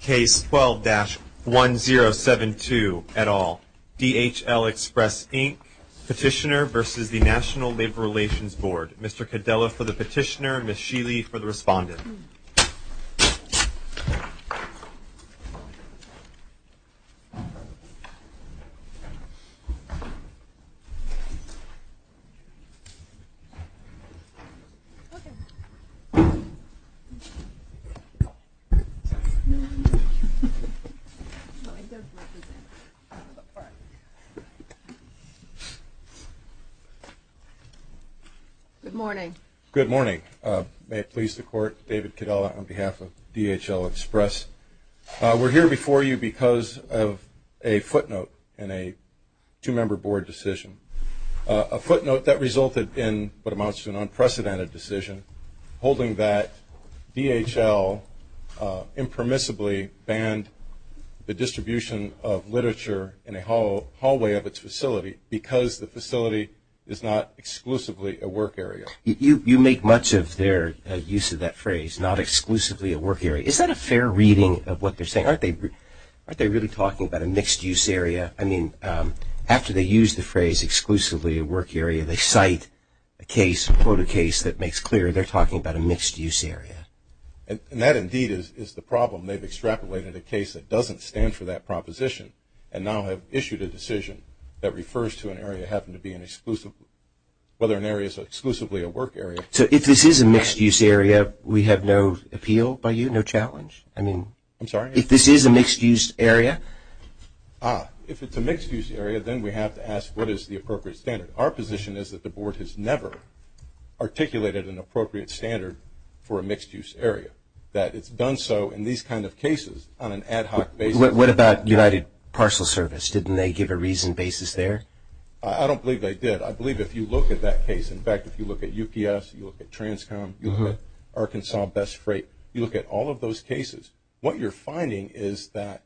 Case 12-1072, et al. DHL Express, Inc. Petitioner v. National Labor Relations Board Mr. Cadella for the petitioner, Ms. Sheely for the respondent. Good morning. May it please the Court, David Cadella on behalf of DHL Express. We're here before you because of a footnote in a two-member board decision. A footnote that resulted in what amounts to an unprecedented decision, holding that DHL impermissibly banned the distribution of literature in a hallway of its facility because the facility is not exclusively a work area. You make much of their use of that phrase, not exclusively a work area. Is that a fair reading of what they're saying? Aren't they really talking about a mixed-use area? I mean, after they use the phrase exclusively a work area, they cite a case, quote a case that makes clear they're talking about a mixed-use area. And that indeed is the problem. They've extrapolated a case that doesn't stand for that proposition and now have issued a decision that refers to an area having to be an exclusive, whether an area is exclusively a work area. So if this is a mixed-use area, we have no appeal by you, no challenge? I'm sorry? If this is a mixed-use area? If it's a mixed-use area, then we have to ask what is the appropriate standard. Our position is that the Board has never articulated an appropriate standard for a mixed-use area, that it's done so in these kind of cases on an ad hoc basis. What about United Parcel Service? Didn't they give a reasoned basis there? I don't believe they did. I believe if you look at that case, in fact, if you look at UPS, you look at Transcom, you look at Arkansas Best Freight, you look at all of those cases, what you're finding is that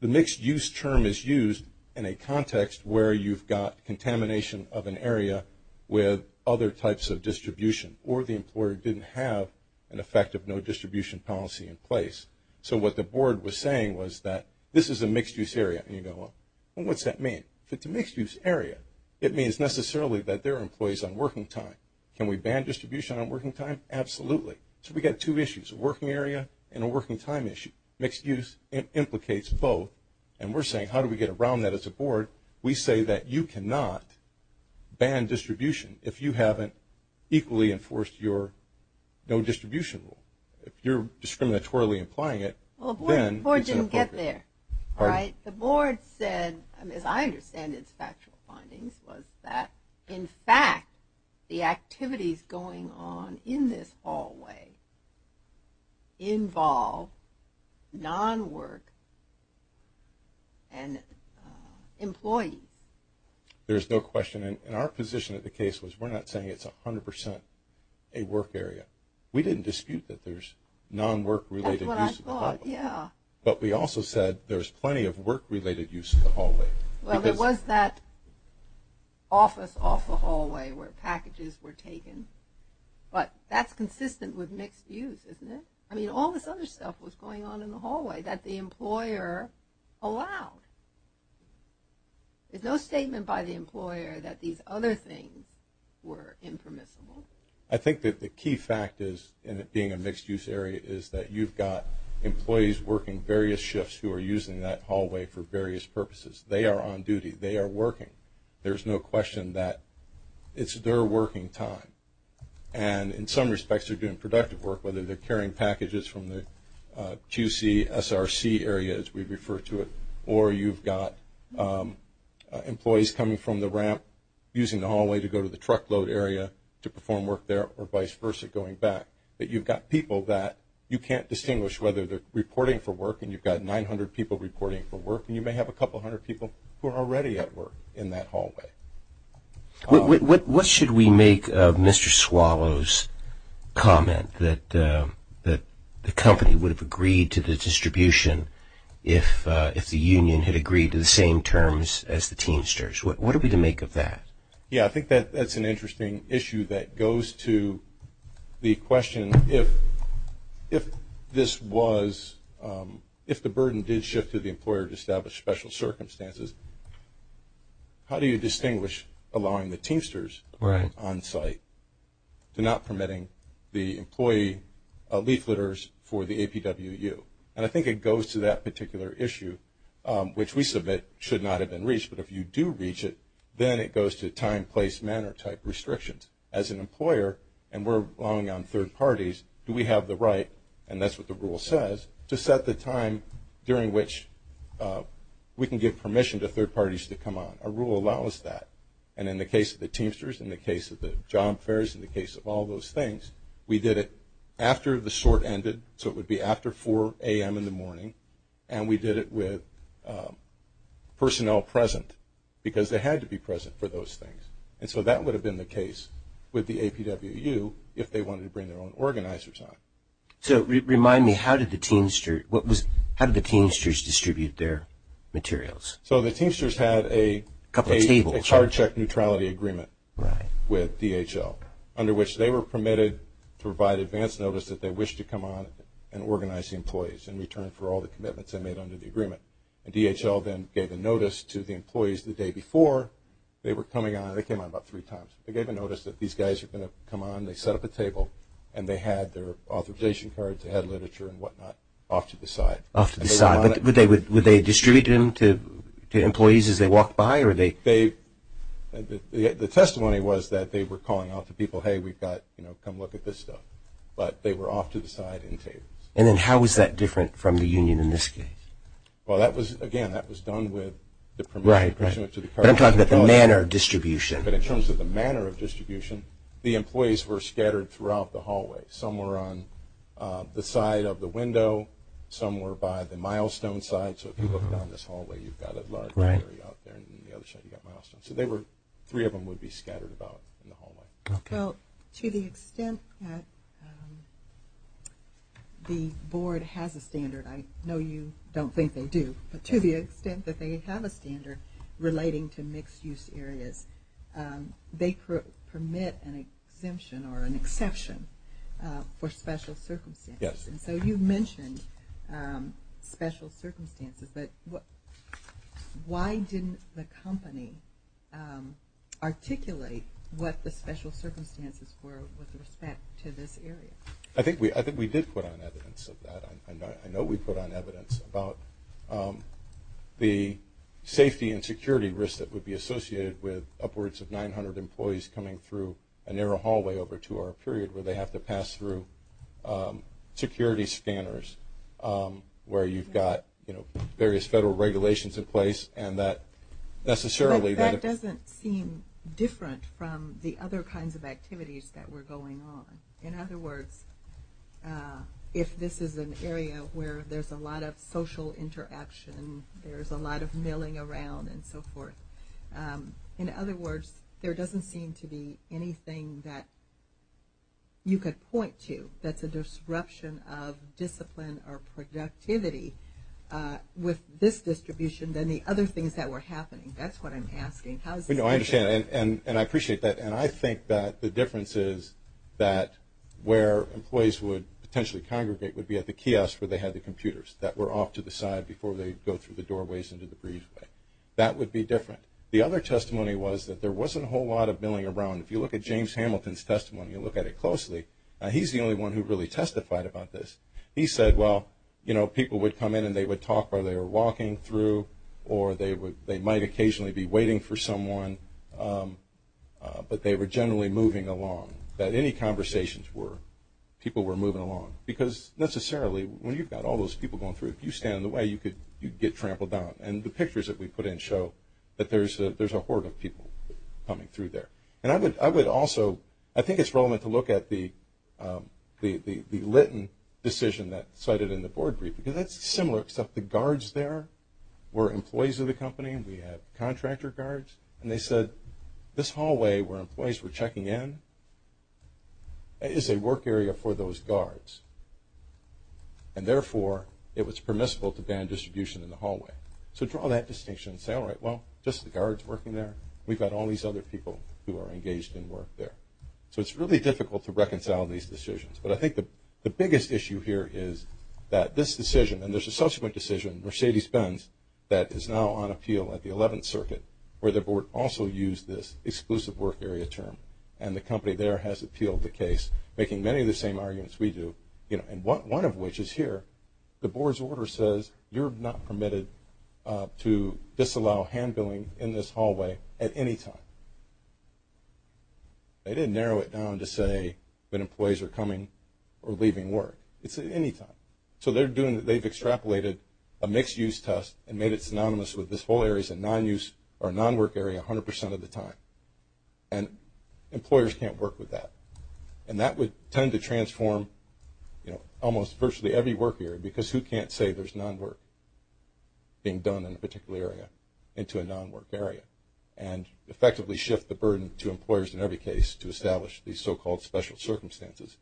the mixed-use term is used in a context where you've got contamination of an area with other types of distribution or the employer didn't have an effective no distribution policy in place. So what the Board was saying was that this is a mixed-use area. And you go, well, what's that mean? If it's a mixed-use area, it means necessarily that there are employees on working time. Can we ban distribution on working time? Absolutely. So we've got two issues, a working area and a working time issue. Mixed-use implicates both, and we're saying how do we get around that as a Board? We say that you cannot ban distribution if you haven't equally enforced your no distribution rule. If you're discriminatorily implying it, then it's inappropriate. Well, the Board didn't get there, right? The Board said, as I understand its factual findings, was that, in fact, the activities going on in this hallway involve non-work and employees. There's no question. And our position of the case was we're not saying it's 100% a work area. We didn't dispute that there's non-work-related use of the hallway. That's what I thought, yeah. But we also said there's plenty of work-related use of the hallway. Well, there was that office off the hallway where packages were taken, but that's consistent with mixed-use, isn't it? I mean, all this other stuff was going on in the hallway that the employer allowed. There's no statement by the employer that these other things were impermissible. I think that the key fact is, in it being a mixed-use area, is that you've got employees working various shifts who are using that hallway for various purposes. They are on duty. They are working. There's no question that it's their working time. And in some respects, they're doing productive work, whether they're carrying packages from the QC, SRC area, as we refer to it, or you've got employees coming from the ramp, using the hallway to go to the truckload area to perform work there, or vice versa, going back. But you've got people that you can't distinguish whether they're reporting for work, and you've got 900 people reporting for work, and you may have a couple hundred people who are already at work in that hallway. What should we make of Mr. Swallow's comment that the company would have agreed to the distribution if the union had agreed to the same terms as the Teamsters? What are we to make of that? Yeah, I think that's an interesting issue that goes to the question, if the burden did shift to the employer to establish special circumstances, how do you distinguish allowing the Teamsters on site to not permitting the employee leafleters for the APWU? And I think it goes to that particular issue, which we submit should not have been reached. But if you do reach it, then it goes to time, place, manner type restrictions. As an employer, and we're relying on third parties, do we have the right, and that's what the rule says, to set the time during which we can give permission to third parties to come on? A rule allows that. And in the case of the Teamsters, in the case of the job fairs, in the case of all those things, we did it after the sort ended, so it would be after 4 a.m. in the morning, and we did it with personnel present because they had to be present for those things. And so that would have been the case with the APWU if they wanted to bring their own organizers on. So remind me, how did the Teamsters distribute their materials? So the Teamsters had a charge check neutrality agreement with DHL, under which they were permitted to provide advance notice that they wished to come on and organize the employees in return for all the commitments they made under the agreement. And DHL then gave a notice to the employees the day before they were coming on. They came on about three times. They gave a notice that these guys are going to come on. They set up a table, and they had their authorization cards. They had literature and whatnot off to the side. Off to the side. But would they distribute them to employees as they walked by? The testimony was that they were calling out to people, hey, we've got, you know, come look at this stuff. But they were off to the side in tables. And then how was that different from the union in this case? Well, again, that was done with the permit. Right, right. But I'm talking about the manner of distribution. But in terms of the manner of distribution, the employees were scattered throughout the hallway. Some were on the side of the window. Some were by the milestone side. So if you look down this hallway, you've got a large gallery out there, and on the other side you've got milestones. So three of them would be scattered about in the hallway. Well, to the extent that the board has a standard, I know you don't think they do, but to the extent that they have a standard relating to mixed-use areas, they permit an exemption or an exception for special circumstances. Yes. And so you mentioned special circumstances, but why didn't the company articulate what the special circumstances were with respect to this area? I think we did put on evidence of that. I know we put on evidence about the safety and security risks that would be associated with upwards of 900 employees coming through a narrow hallway over a two-hour period where they have to pass through security scanners where you've got various federal regulations in place. That doesn't seem different from the other kinds of activities that were going on. In other words, if this is an area where there's a lot of social interaction, there's a lot of milling around and so forth, in other words, there doesn't seem to be anything that you could point to that's a disruption of discipline or productivity with this distribution than the other things that were happening. That's what I'm asking. I understand, and I appreciate that, and I think that the difference is that where employees would potentially congregate would be at the kiosk where they had the computers that were off to the side before they go through the doorways into the breezeway. That would be different. The other testimony was that there wasn't a whole lot of milling around. If you look at James Hamilton's testimony and look at it closely, he's the only one who really testified about this. He said, well, people would come in and they would talk while they were walking through or they might occasionally be waiting for someone, but they were generally moving along, that any conversations were people were moving along. Because necessarily, when you've got all those people going through, if you stand in the way, you could get trampled down. And the pictures that we put in show that there's a horde of people coming through there. I think it's relevant to look at the Lytton decision that's cited in the board brief because that's similar except the guards there were employees of the company and we had contractor guards, and they said, this hallway where employees were checking in is a work area for those guards, and therefore it was permissible to ban distribution in the hallway. So draw that distinction and say, all right, well, just the guards working there. We've got all these other people who are engaged in work there. So it's really difficult to reconcile these decisions. But I think the biggest issue here is that this decision, and there's a subsequent decision, Mercedes Benz, that is now on appeal at the 11th Circuit, where the board also used this exclusive work area term, and the company there has appealed the case, making many of the same arguments we do, and one of which is here. The board's order says you're not permitted to disallow hand billing in this hallway at any time. They didn't narrow it down to say when employees are coming or leaving work. It's at any time. So they've extrapolated a mixed-use test and made it synonymous with this whole area is a non-work area 100% of the time. And employers can't work with that. And that would tend to transform, you know, almost virtually every work area, because who can't say there's non-work being done in a particular area into a non-work area and effectively shift the burden to employers in every case to establish these so-called special circumstances,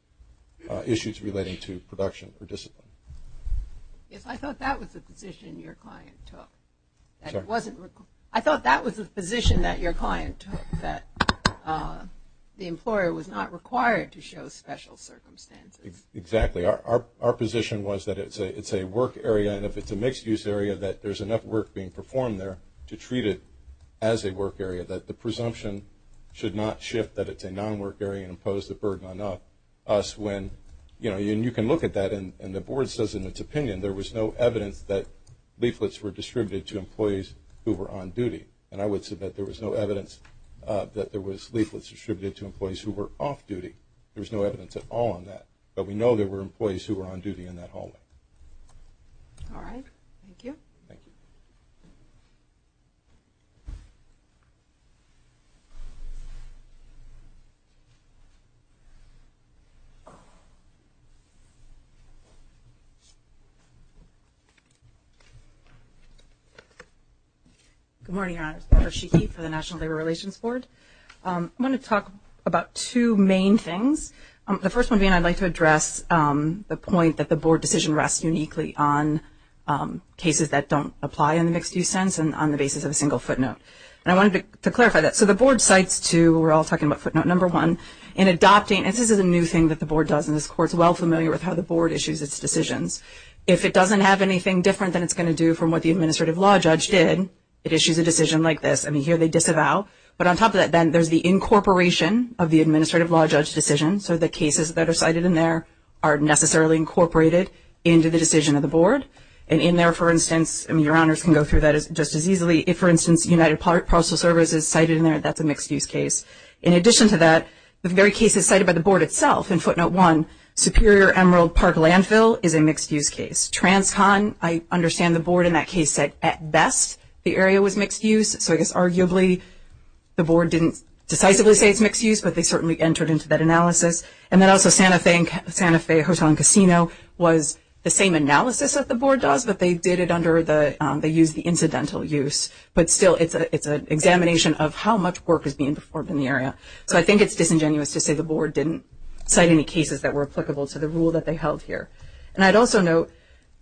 issues relating to production or discipline. Yes, I thought that was the position your client took. I thought that was the position that your client took, that the employer was not required to show special circumstances. Exactly. Our position was that it's a work area, and if it's a mixed-use area, that there's enough work being performed there to treat it as a work area, that the presumption should not shift that it's a non-work area and impose the burden on us when, you know, and the board says in its opinion there was no evidence that leaflets were distributed to employees who were on duty. And I would submit there was no evidence that there was leaflets distributed to employees who were off duty. There was no evidence at all on that. But we know there were employees who were on duty in that hallway. All right. Thank you. Thank you. Good morning, Your Honors. Barbara Sheehy for the National Labor Relations Board. I want to talk about two main things. The first one being I'd like to address the point that the board decision rests uniquely on cases that don't apply in the mixed-use sense and on the basis of a single footnote. And I wanted to clarify that. So the board cites to, we're all talking about footnote number one, in adopting, and this is a new thing that the board does, and this court is well familiar with how the board issues its decisions. If it doesn't have anything different than it's going to do from what the administrative law judge did, it issues a decision like this. I mean, here they disavow. But on top of that, then, there's the incorporation of the administrative law judge decision. So the cases that are cited in there are necessarily incorporated into the decision of the board. And in there, for instance, I mean, Your Honors can go through that just as easily. If, for instance, United Postal Service is cited in there, that's a mixed-use case. In addition to that, the very cases cited by the board itself in footnote one, Superior Emerald Park Landfill is a mixed-use case. Transcon, I understand the board in that case said at best the area was mixed-use. So I guess arguably the board didn't decisively say it's mixed-use, but they certainly entered into that analysis. And then also Santa Fe Hotel and Casino was the same analysis that the board does, but they did it under the, they used the incidental use. But still, it's an examination of how much work is being performed in the area. So I think it's disingenuous to say the board didn't cite any cases that were applicable to the rule that they held here. And I'd also note,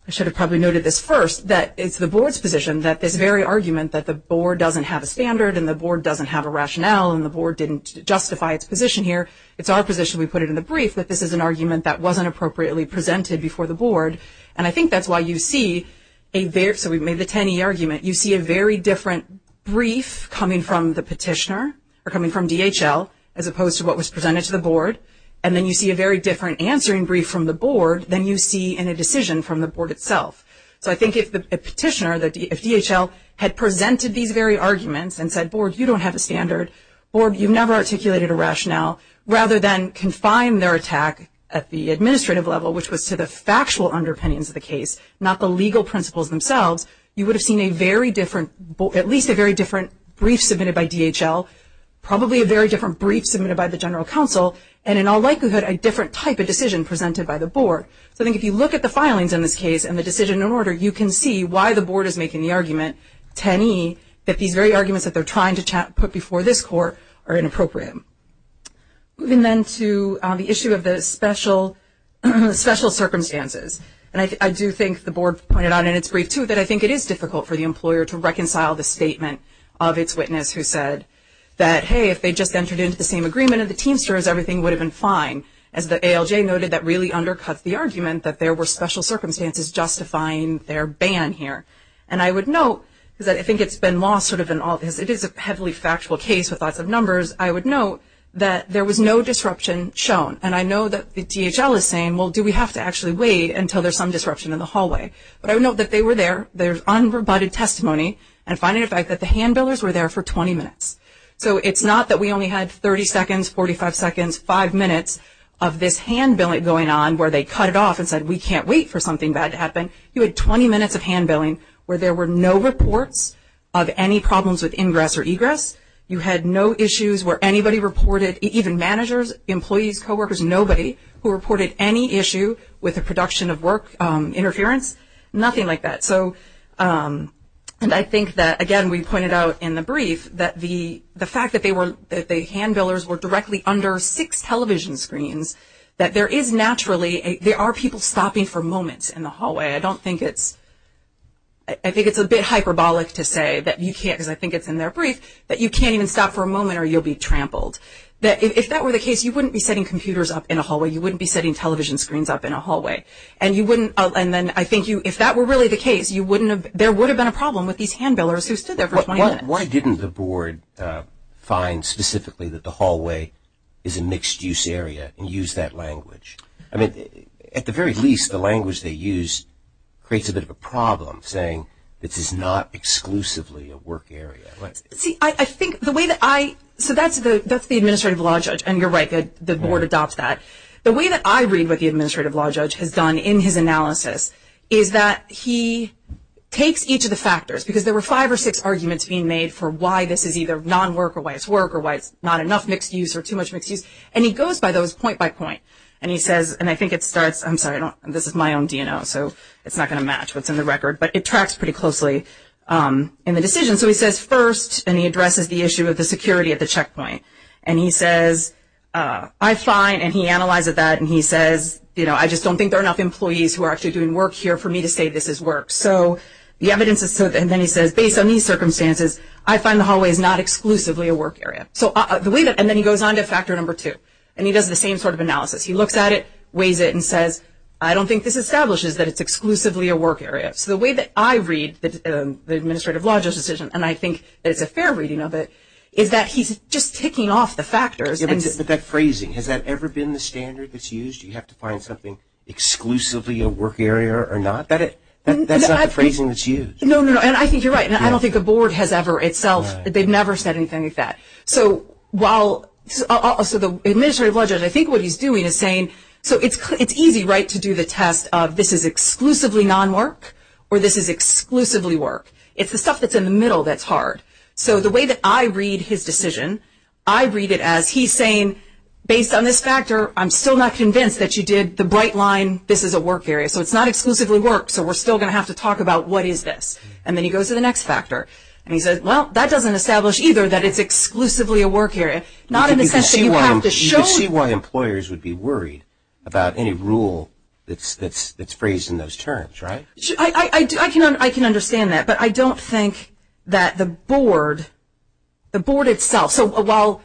I should have probably noted this first, that it's the board's position that this very argument that the board doesn't have a standard and the board doesn't have a rationale and the board didn't justify its position here, it's our position, we put it in the brief, that this is an argument that wasn't appropriately presented before the board. And I think that's why you see a very, so we made the TANI argument, you see a very different brief coming from the petitioner, or coming from DHL, as opposed to what was presented to the board. And then you see a very different answering brief from the board than you see in a decision from the board itself. So I think if the petitioner, if DHL had presented these very arguments and said, board, you don't have a standard, board, you've never articulated a rationale, rather than confine their attack at the administrative level, which was to the factual underpinnings of the case, not the legal principles themselves, you would have seen a very different, at least a very different brief submitted by DHL, probably a very different brief submitted by the general counsel, and in all likelihood a different type of decision presented by the board. So I think if you look at the filings in this case and the decision in order, you can see why the board is making the argument, TANI, that these very arguments that they're trying to put before this court are inappropriate. Moving then to the issue of the special circumstances. And I do think the board pointed out in its brief, too, that I think it is difficult for the employer to reconcile the statement of its witness who said that, hey, if they just entered into the same agreement of the Teamsters, everything would have been fine. As the ALJ noted, that really undercuts the argument that there were special circumstances justifying their ban here. And I would note, because I think it's been lost sort of in all this, it is a heavily factual case with lots of numbers, I would note that there was no disruption shown. And I know that the DHL is saying, well, do we have to actually wait until there's some disruption in the hallway? But I would note that they were there, there's unrebutted testimony, and find it a fact that the hand-billers were there for 20 minutes. So it's not that we only had 30 seconds, 45 seconds, five minutes of this hand-billing going on where they cut it off and said, we can't wait for something bad to happen. You had 20 minutes of hand-billing where there were no reports of any problems with ingress or egress. You had no issues where anybody reported, even managers, employees, coworkers, nobody who reported any issue with the production of work interference. Nothing like that. So I think that, again, we pointed out in the brief that the fact that the hand-billers were directly under six television screens, that there is naturally, there are people stopping for moments in the hallway. I don't think it's, I think it's a bit hyperbolic to say that you can't, because I think it's in their brief, that you can't even stop for a moment or you'll be trampled. If that were the case, you wouldn't be setting computers up in a hallway. You wouldn't be setting television screens up in a hallway. And you wouldn't, and then I think you, if that were really the case, you wouldn't have, there would have been a problem with these hand-billers who stood there for 20 minutes. Why didn't the board find specifically that the hallway is a mixed-use area and use that language? I mean, at the very least, the language they used creates a bit of a problem, saying this is not exclusively a work area. See, I think the way that I, so that's the administrative law judge, and you're right, the board adopts that. The way that I read what the administrative law judge has done in his analysis is that he takes each of the factors, because there were five or six arguments being made for why this is either non-work or why it's work or why it's not enough mixed-use or too much mixed-use, and he goes by those point by point. And he says, and I think it starts, I'm sorry, this is my own DNO, so it's not going to match what's in the record, but it tracks pretty closely in the decision. So he says, first, and he addresses the issue of the security at the checkpoint. And he says, I find, and he analyzes that, and he says, you know, I just don't think there are enough employees who are actually doing work here for me to say this is work. So the evidence is, and then he says, based on these circumstances, I find the hallway is not exclusively a work area. And then he goes on to factor number two, and he does the same sort of analysis. He looks at it, weighs it, and says, I don't think this establishes that it's exclusively a work area. So the way that I read the administrative law judge's decision, and I think it's a fair reading of it, is that he's just ticking off the factors. But that phrasing, has that ever been the standard that's used? Do you have to find something exclusively a work area or not? That's not the phrasing that's used. No, no, and I think you're right, and I don't think the board has ever itself. They've never said anything like that. So while also the administrative law judge, I think what he's doing is saying, so it's easy, right, to do the test of this is exclusively non-work or this is exclusively work. It's the stuff that's in the middle that's hard. So the way that I read his decision, I read it as he's saying, based on this factor, I'm still not convinced that you did the bright line, this is a work area. So it's not exclusively work, so we're still going to have to talk about what is this. And then he goes to the next factor, and he says, well, that doesn't establish either that it's exclusively a work area, not in the sense that you have to show. You can see why employers would be worried about any rule that's phrased in those terms, right? I can understand that, but I don't think that the board, the board itself. So while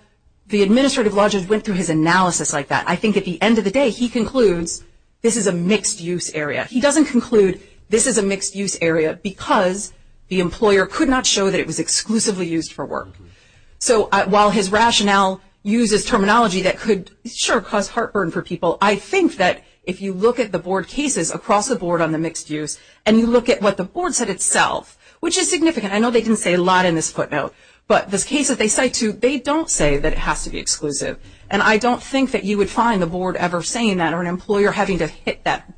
the administrative law judge went through his analysis like that, I think at the end of the day he concludes this is a mixed-use area. He doesn't conclude this is a mixed-use area because the employer could not show that it was exclusively used for work. So while his rationale uses terminology that could, sure, cause heartburn for people, I think that if you look at the board cases across the board on the mixed-use, and you look at what the board said itself, which is significant. I know they didn't say a lot in this footnote, but those cases they cite too, they don't say that it has to be exclusive. And I don't think that you would find the board ever saying that, or an employer having to hit that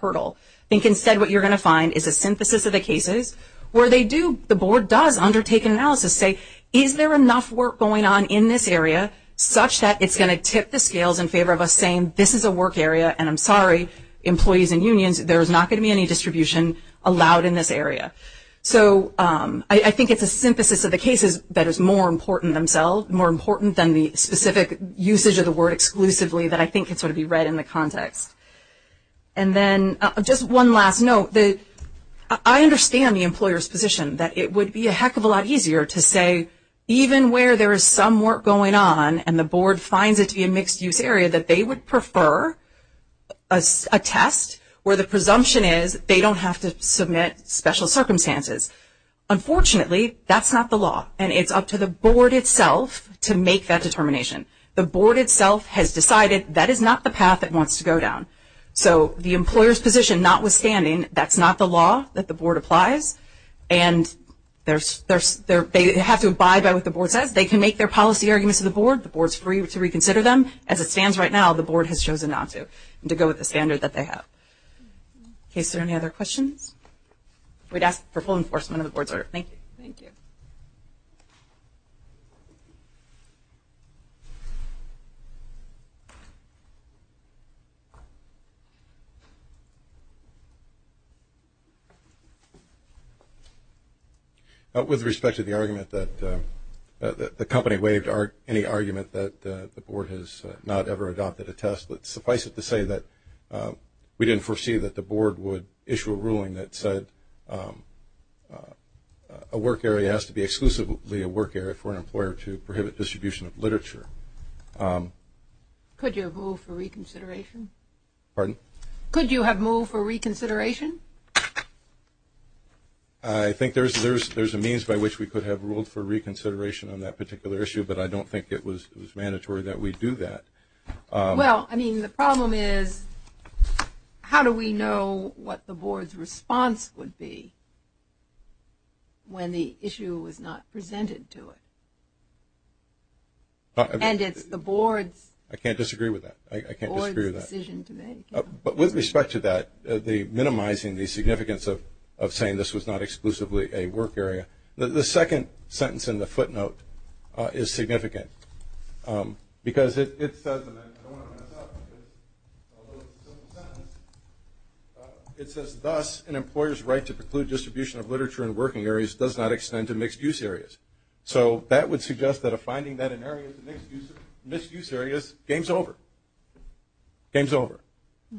hurdle. I think instead what you're going to find is a synthesis of the cases where they do, the board does undertake an analysis, say, is there enough work going on in this area, such that it's going to tip the scales in favor of us saying this is a work area, and I'm sorry, employees and unions, there's not going to be any distribution allowed in this area. So I think it's a synthesis of the cases that is more important themselves, more important than the specific usage of the word exclusively, that I think can sort of be read in the context. And then just one last note, I understand the employer's position, that it would be a heck of a lot easier to say even where there is some work going on and the board finds it to be a mixed-use area, that they would prefer a test where the presumption is they don't have to submit special circumstances. Unfortunately, that's not the law, and it's up to the board itself to make that determination. The board itself has decided that is not the path it wants to go down. So the employer's position notwithstanding, that's not the law that the board applies, and they have to abide by what the board says. They can make their policy arguments to the board. The board is free to reconsider them. As it stands right now, the board has chosen not to, to go with the standard that they have. Okay, is there any other questions? We'd ask for full enforcement of the board's order. Thank you. Thank you. With respect to the argument that the company waived any argument that the board has not ever adopted a test, suffice it to say that we didn't foresee that the board would issue a ruling that said a work area has to be exclusively a work area for an employer to prohibit distribution of literature. Could you have moved for reconsideration? Pardon? Could you have moved for reconsideration? I think there's a means by which we could have ruled for reconsideration on that particular issue, but I don't think it was mandatory that we do that. Well, I mean, the problem is how do we know what the board's response would be when the issue was not presented to it? And it's the board's decision to make. I can't disagree with that. But with respect to that, minimizing the significance of saying this was not exclusively a work area, the second sentence in the footnote is significant because it says, and I don't want to mess up, although it's a simple sentence, it says, thus an employer's right to preclude distribution of literature in working areas does not extend to mixed-use areas. So that would suggest that a finding that in areas of mixed-use areas, game's over. Game's over.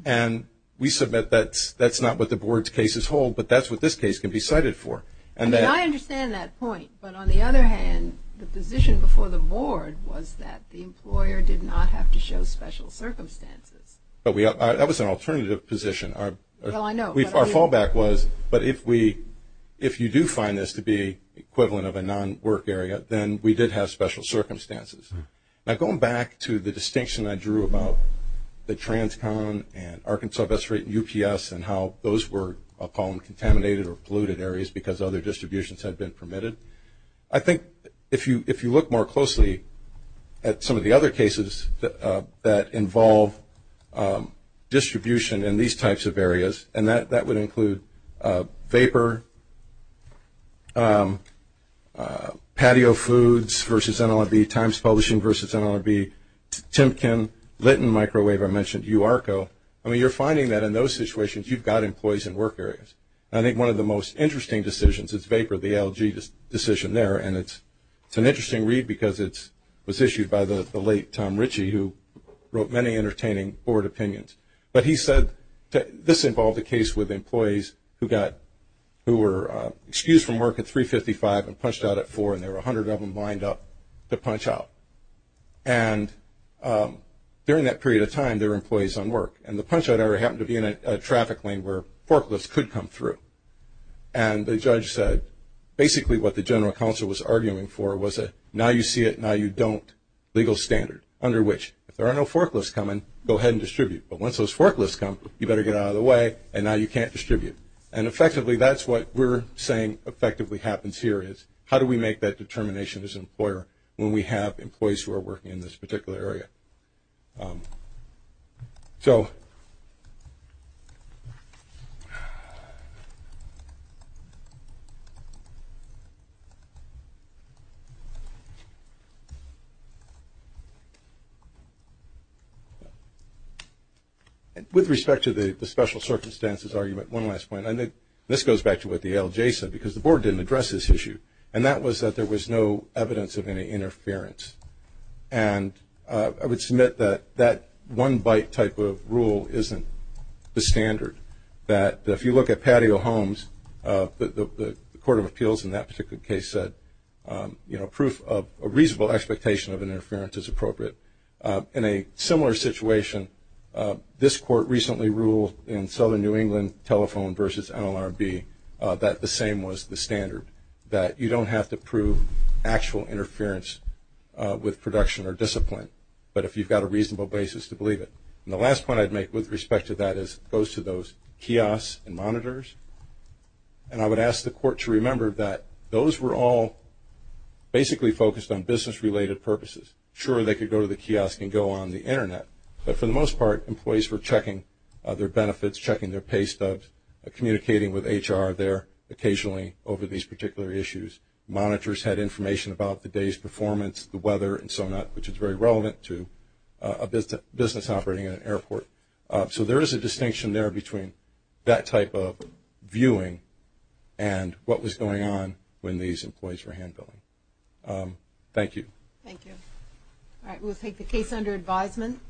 And we submit that that's not what the board's case is whole, but that's what this case can be cited for. I mean, I understand that point, but on the other hand, the position before the board was that the employer did not have to show special circumstances. That was an alternative position. Well, I know. Our fallback was, but if you do find this to be equivalent of a non-work area, then we did have special circumstances. Now, going back to the distinction I drew about the TransCon and Arkansas UPS and how those were column-contaminated or polluted areas because other distributions had been permitted, I think if you look more closely at some of the other cases that involve distribution in these types of areas, and that would include vapor, patio foods versus NLRB, Times Publishing versus NLRB, Tim Kim, Lytton Microwave, I mentioned URCO, I mean, you're finding that in those situations you've got employees in work areas. And I think one of the most interesting decisions is vapor, the LG decision there, and it's an interesting read because it was issued by the late Tom Ritchie, who wrote many entertaining board opinions. But he said this involved a case with employees who were excused from work at 355 and punched out at 4, and there were 100 of them lined up to punch out. And during that period of time, there were employees on work, and the punch-out area happened to be in a traffic lane where forklifts could come through. And the judge said basically what the general counsel was arguing for was a now-you-see-it, now-you-don't legal standard under which if there are no forklifts coming, go ahead and distribute. But once those forklifts come, you better get out of the way, and now you can't distribute. And effectively, that's what we're saying effectively happens here is how do we make that determination as an employer when we have employees who are working in this particular area. So with respect to the special circumstances argument, one last point, and this goes back to what the ALJ said because the board didn't address this issue, and that was that there was no evidence of any interference. And I would submit that that one-bite type of rule isn't the standard, that if you look at patio homes, the Court of Appeals in that particular case said proof of a reasonable expectation of interference is appropriate. In a similar situation, this court recently ruled in Southern New England Telephone v. NLRB that the same was the standard, that you don't have to prove actual interference with production or discipline, but if you've got a reasonable basis to believe it. And the last point I'd make with respect to that goes to those kiosks and monitors, and I would ask the Court to remember that those were all basically focused on business-related purposes. Sure, they could go to the kiosk and go on the Internet, but for the most part, employees were checking their benefits, checking their pay stubs, communicating with HR there occasionally over these particular issues. Monitors had information about the day's performance, the weather, and so on, which is very relevant to a business operating at an airport. So there is a distinction there between that type of viewing and what was going on when these employees were hand-billing. Thank you. Thank you. All right, we'll take the case under advisement.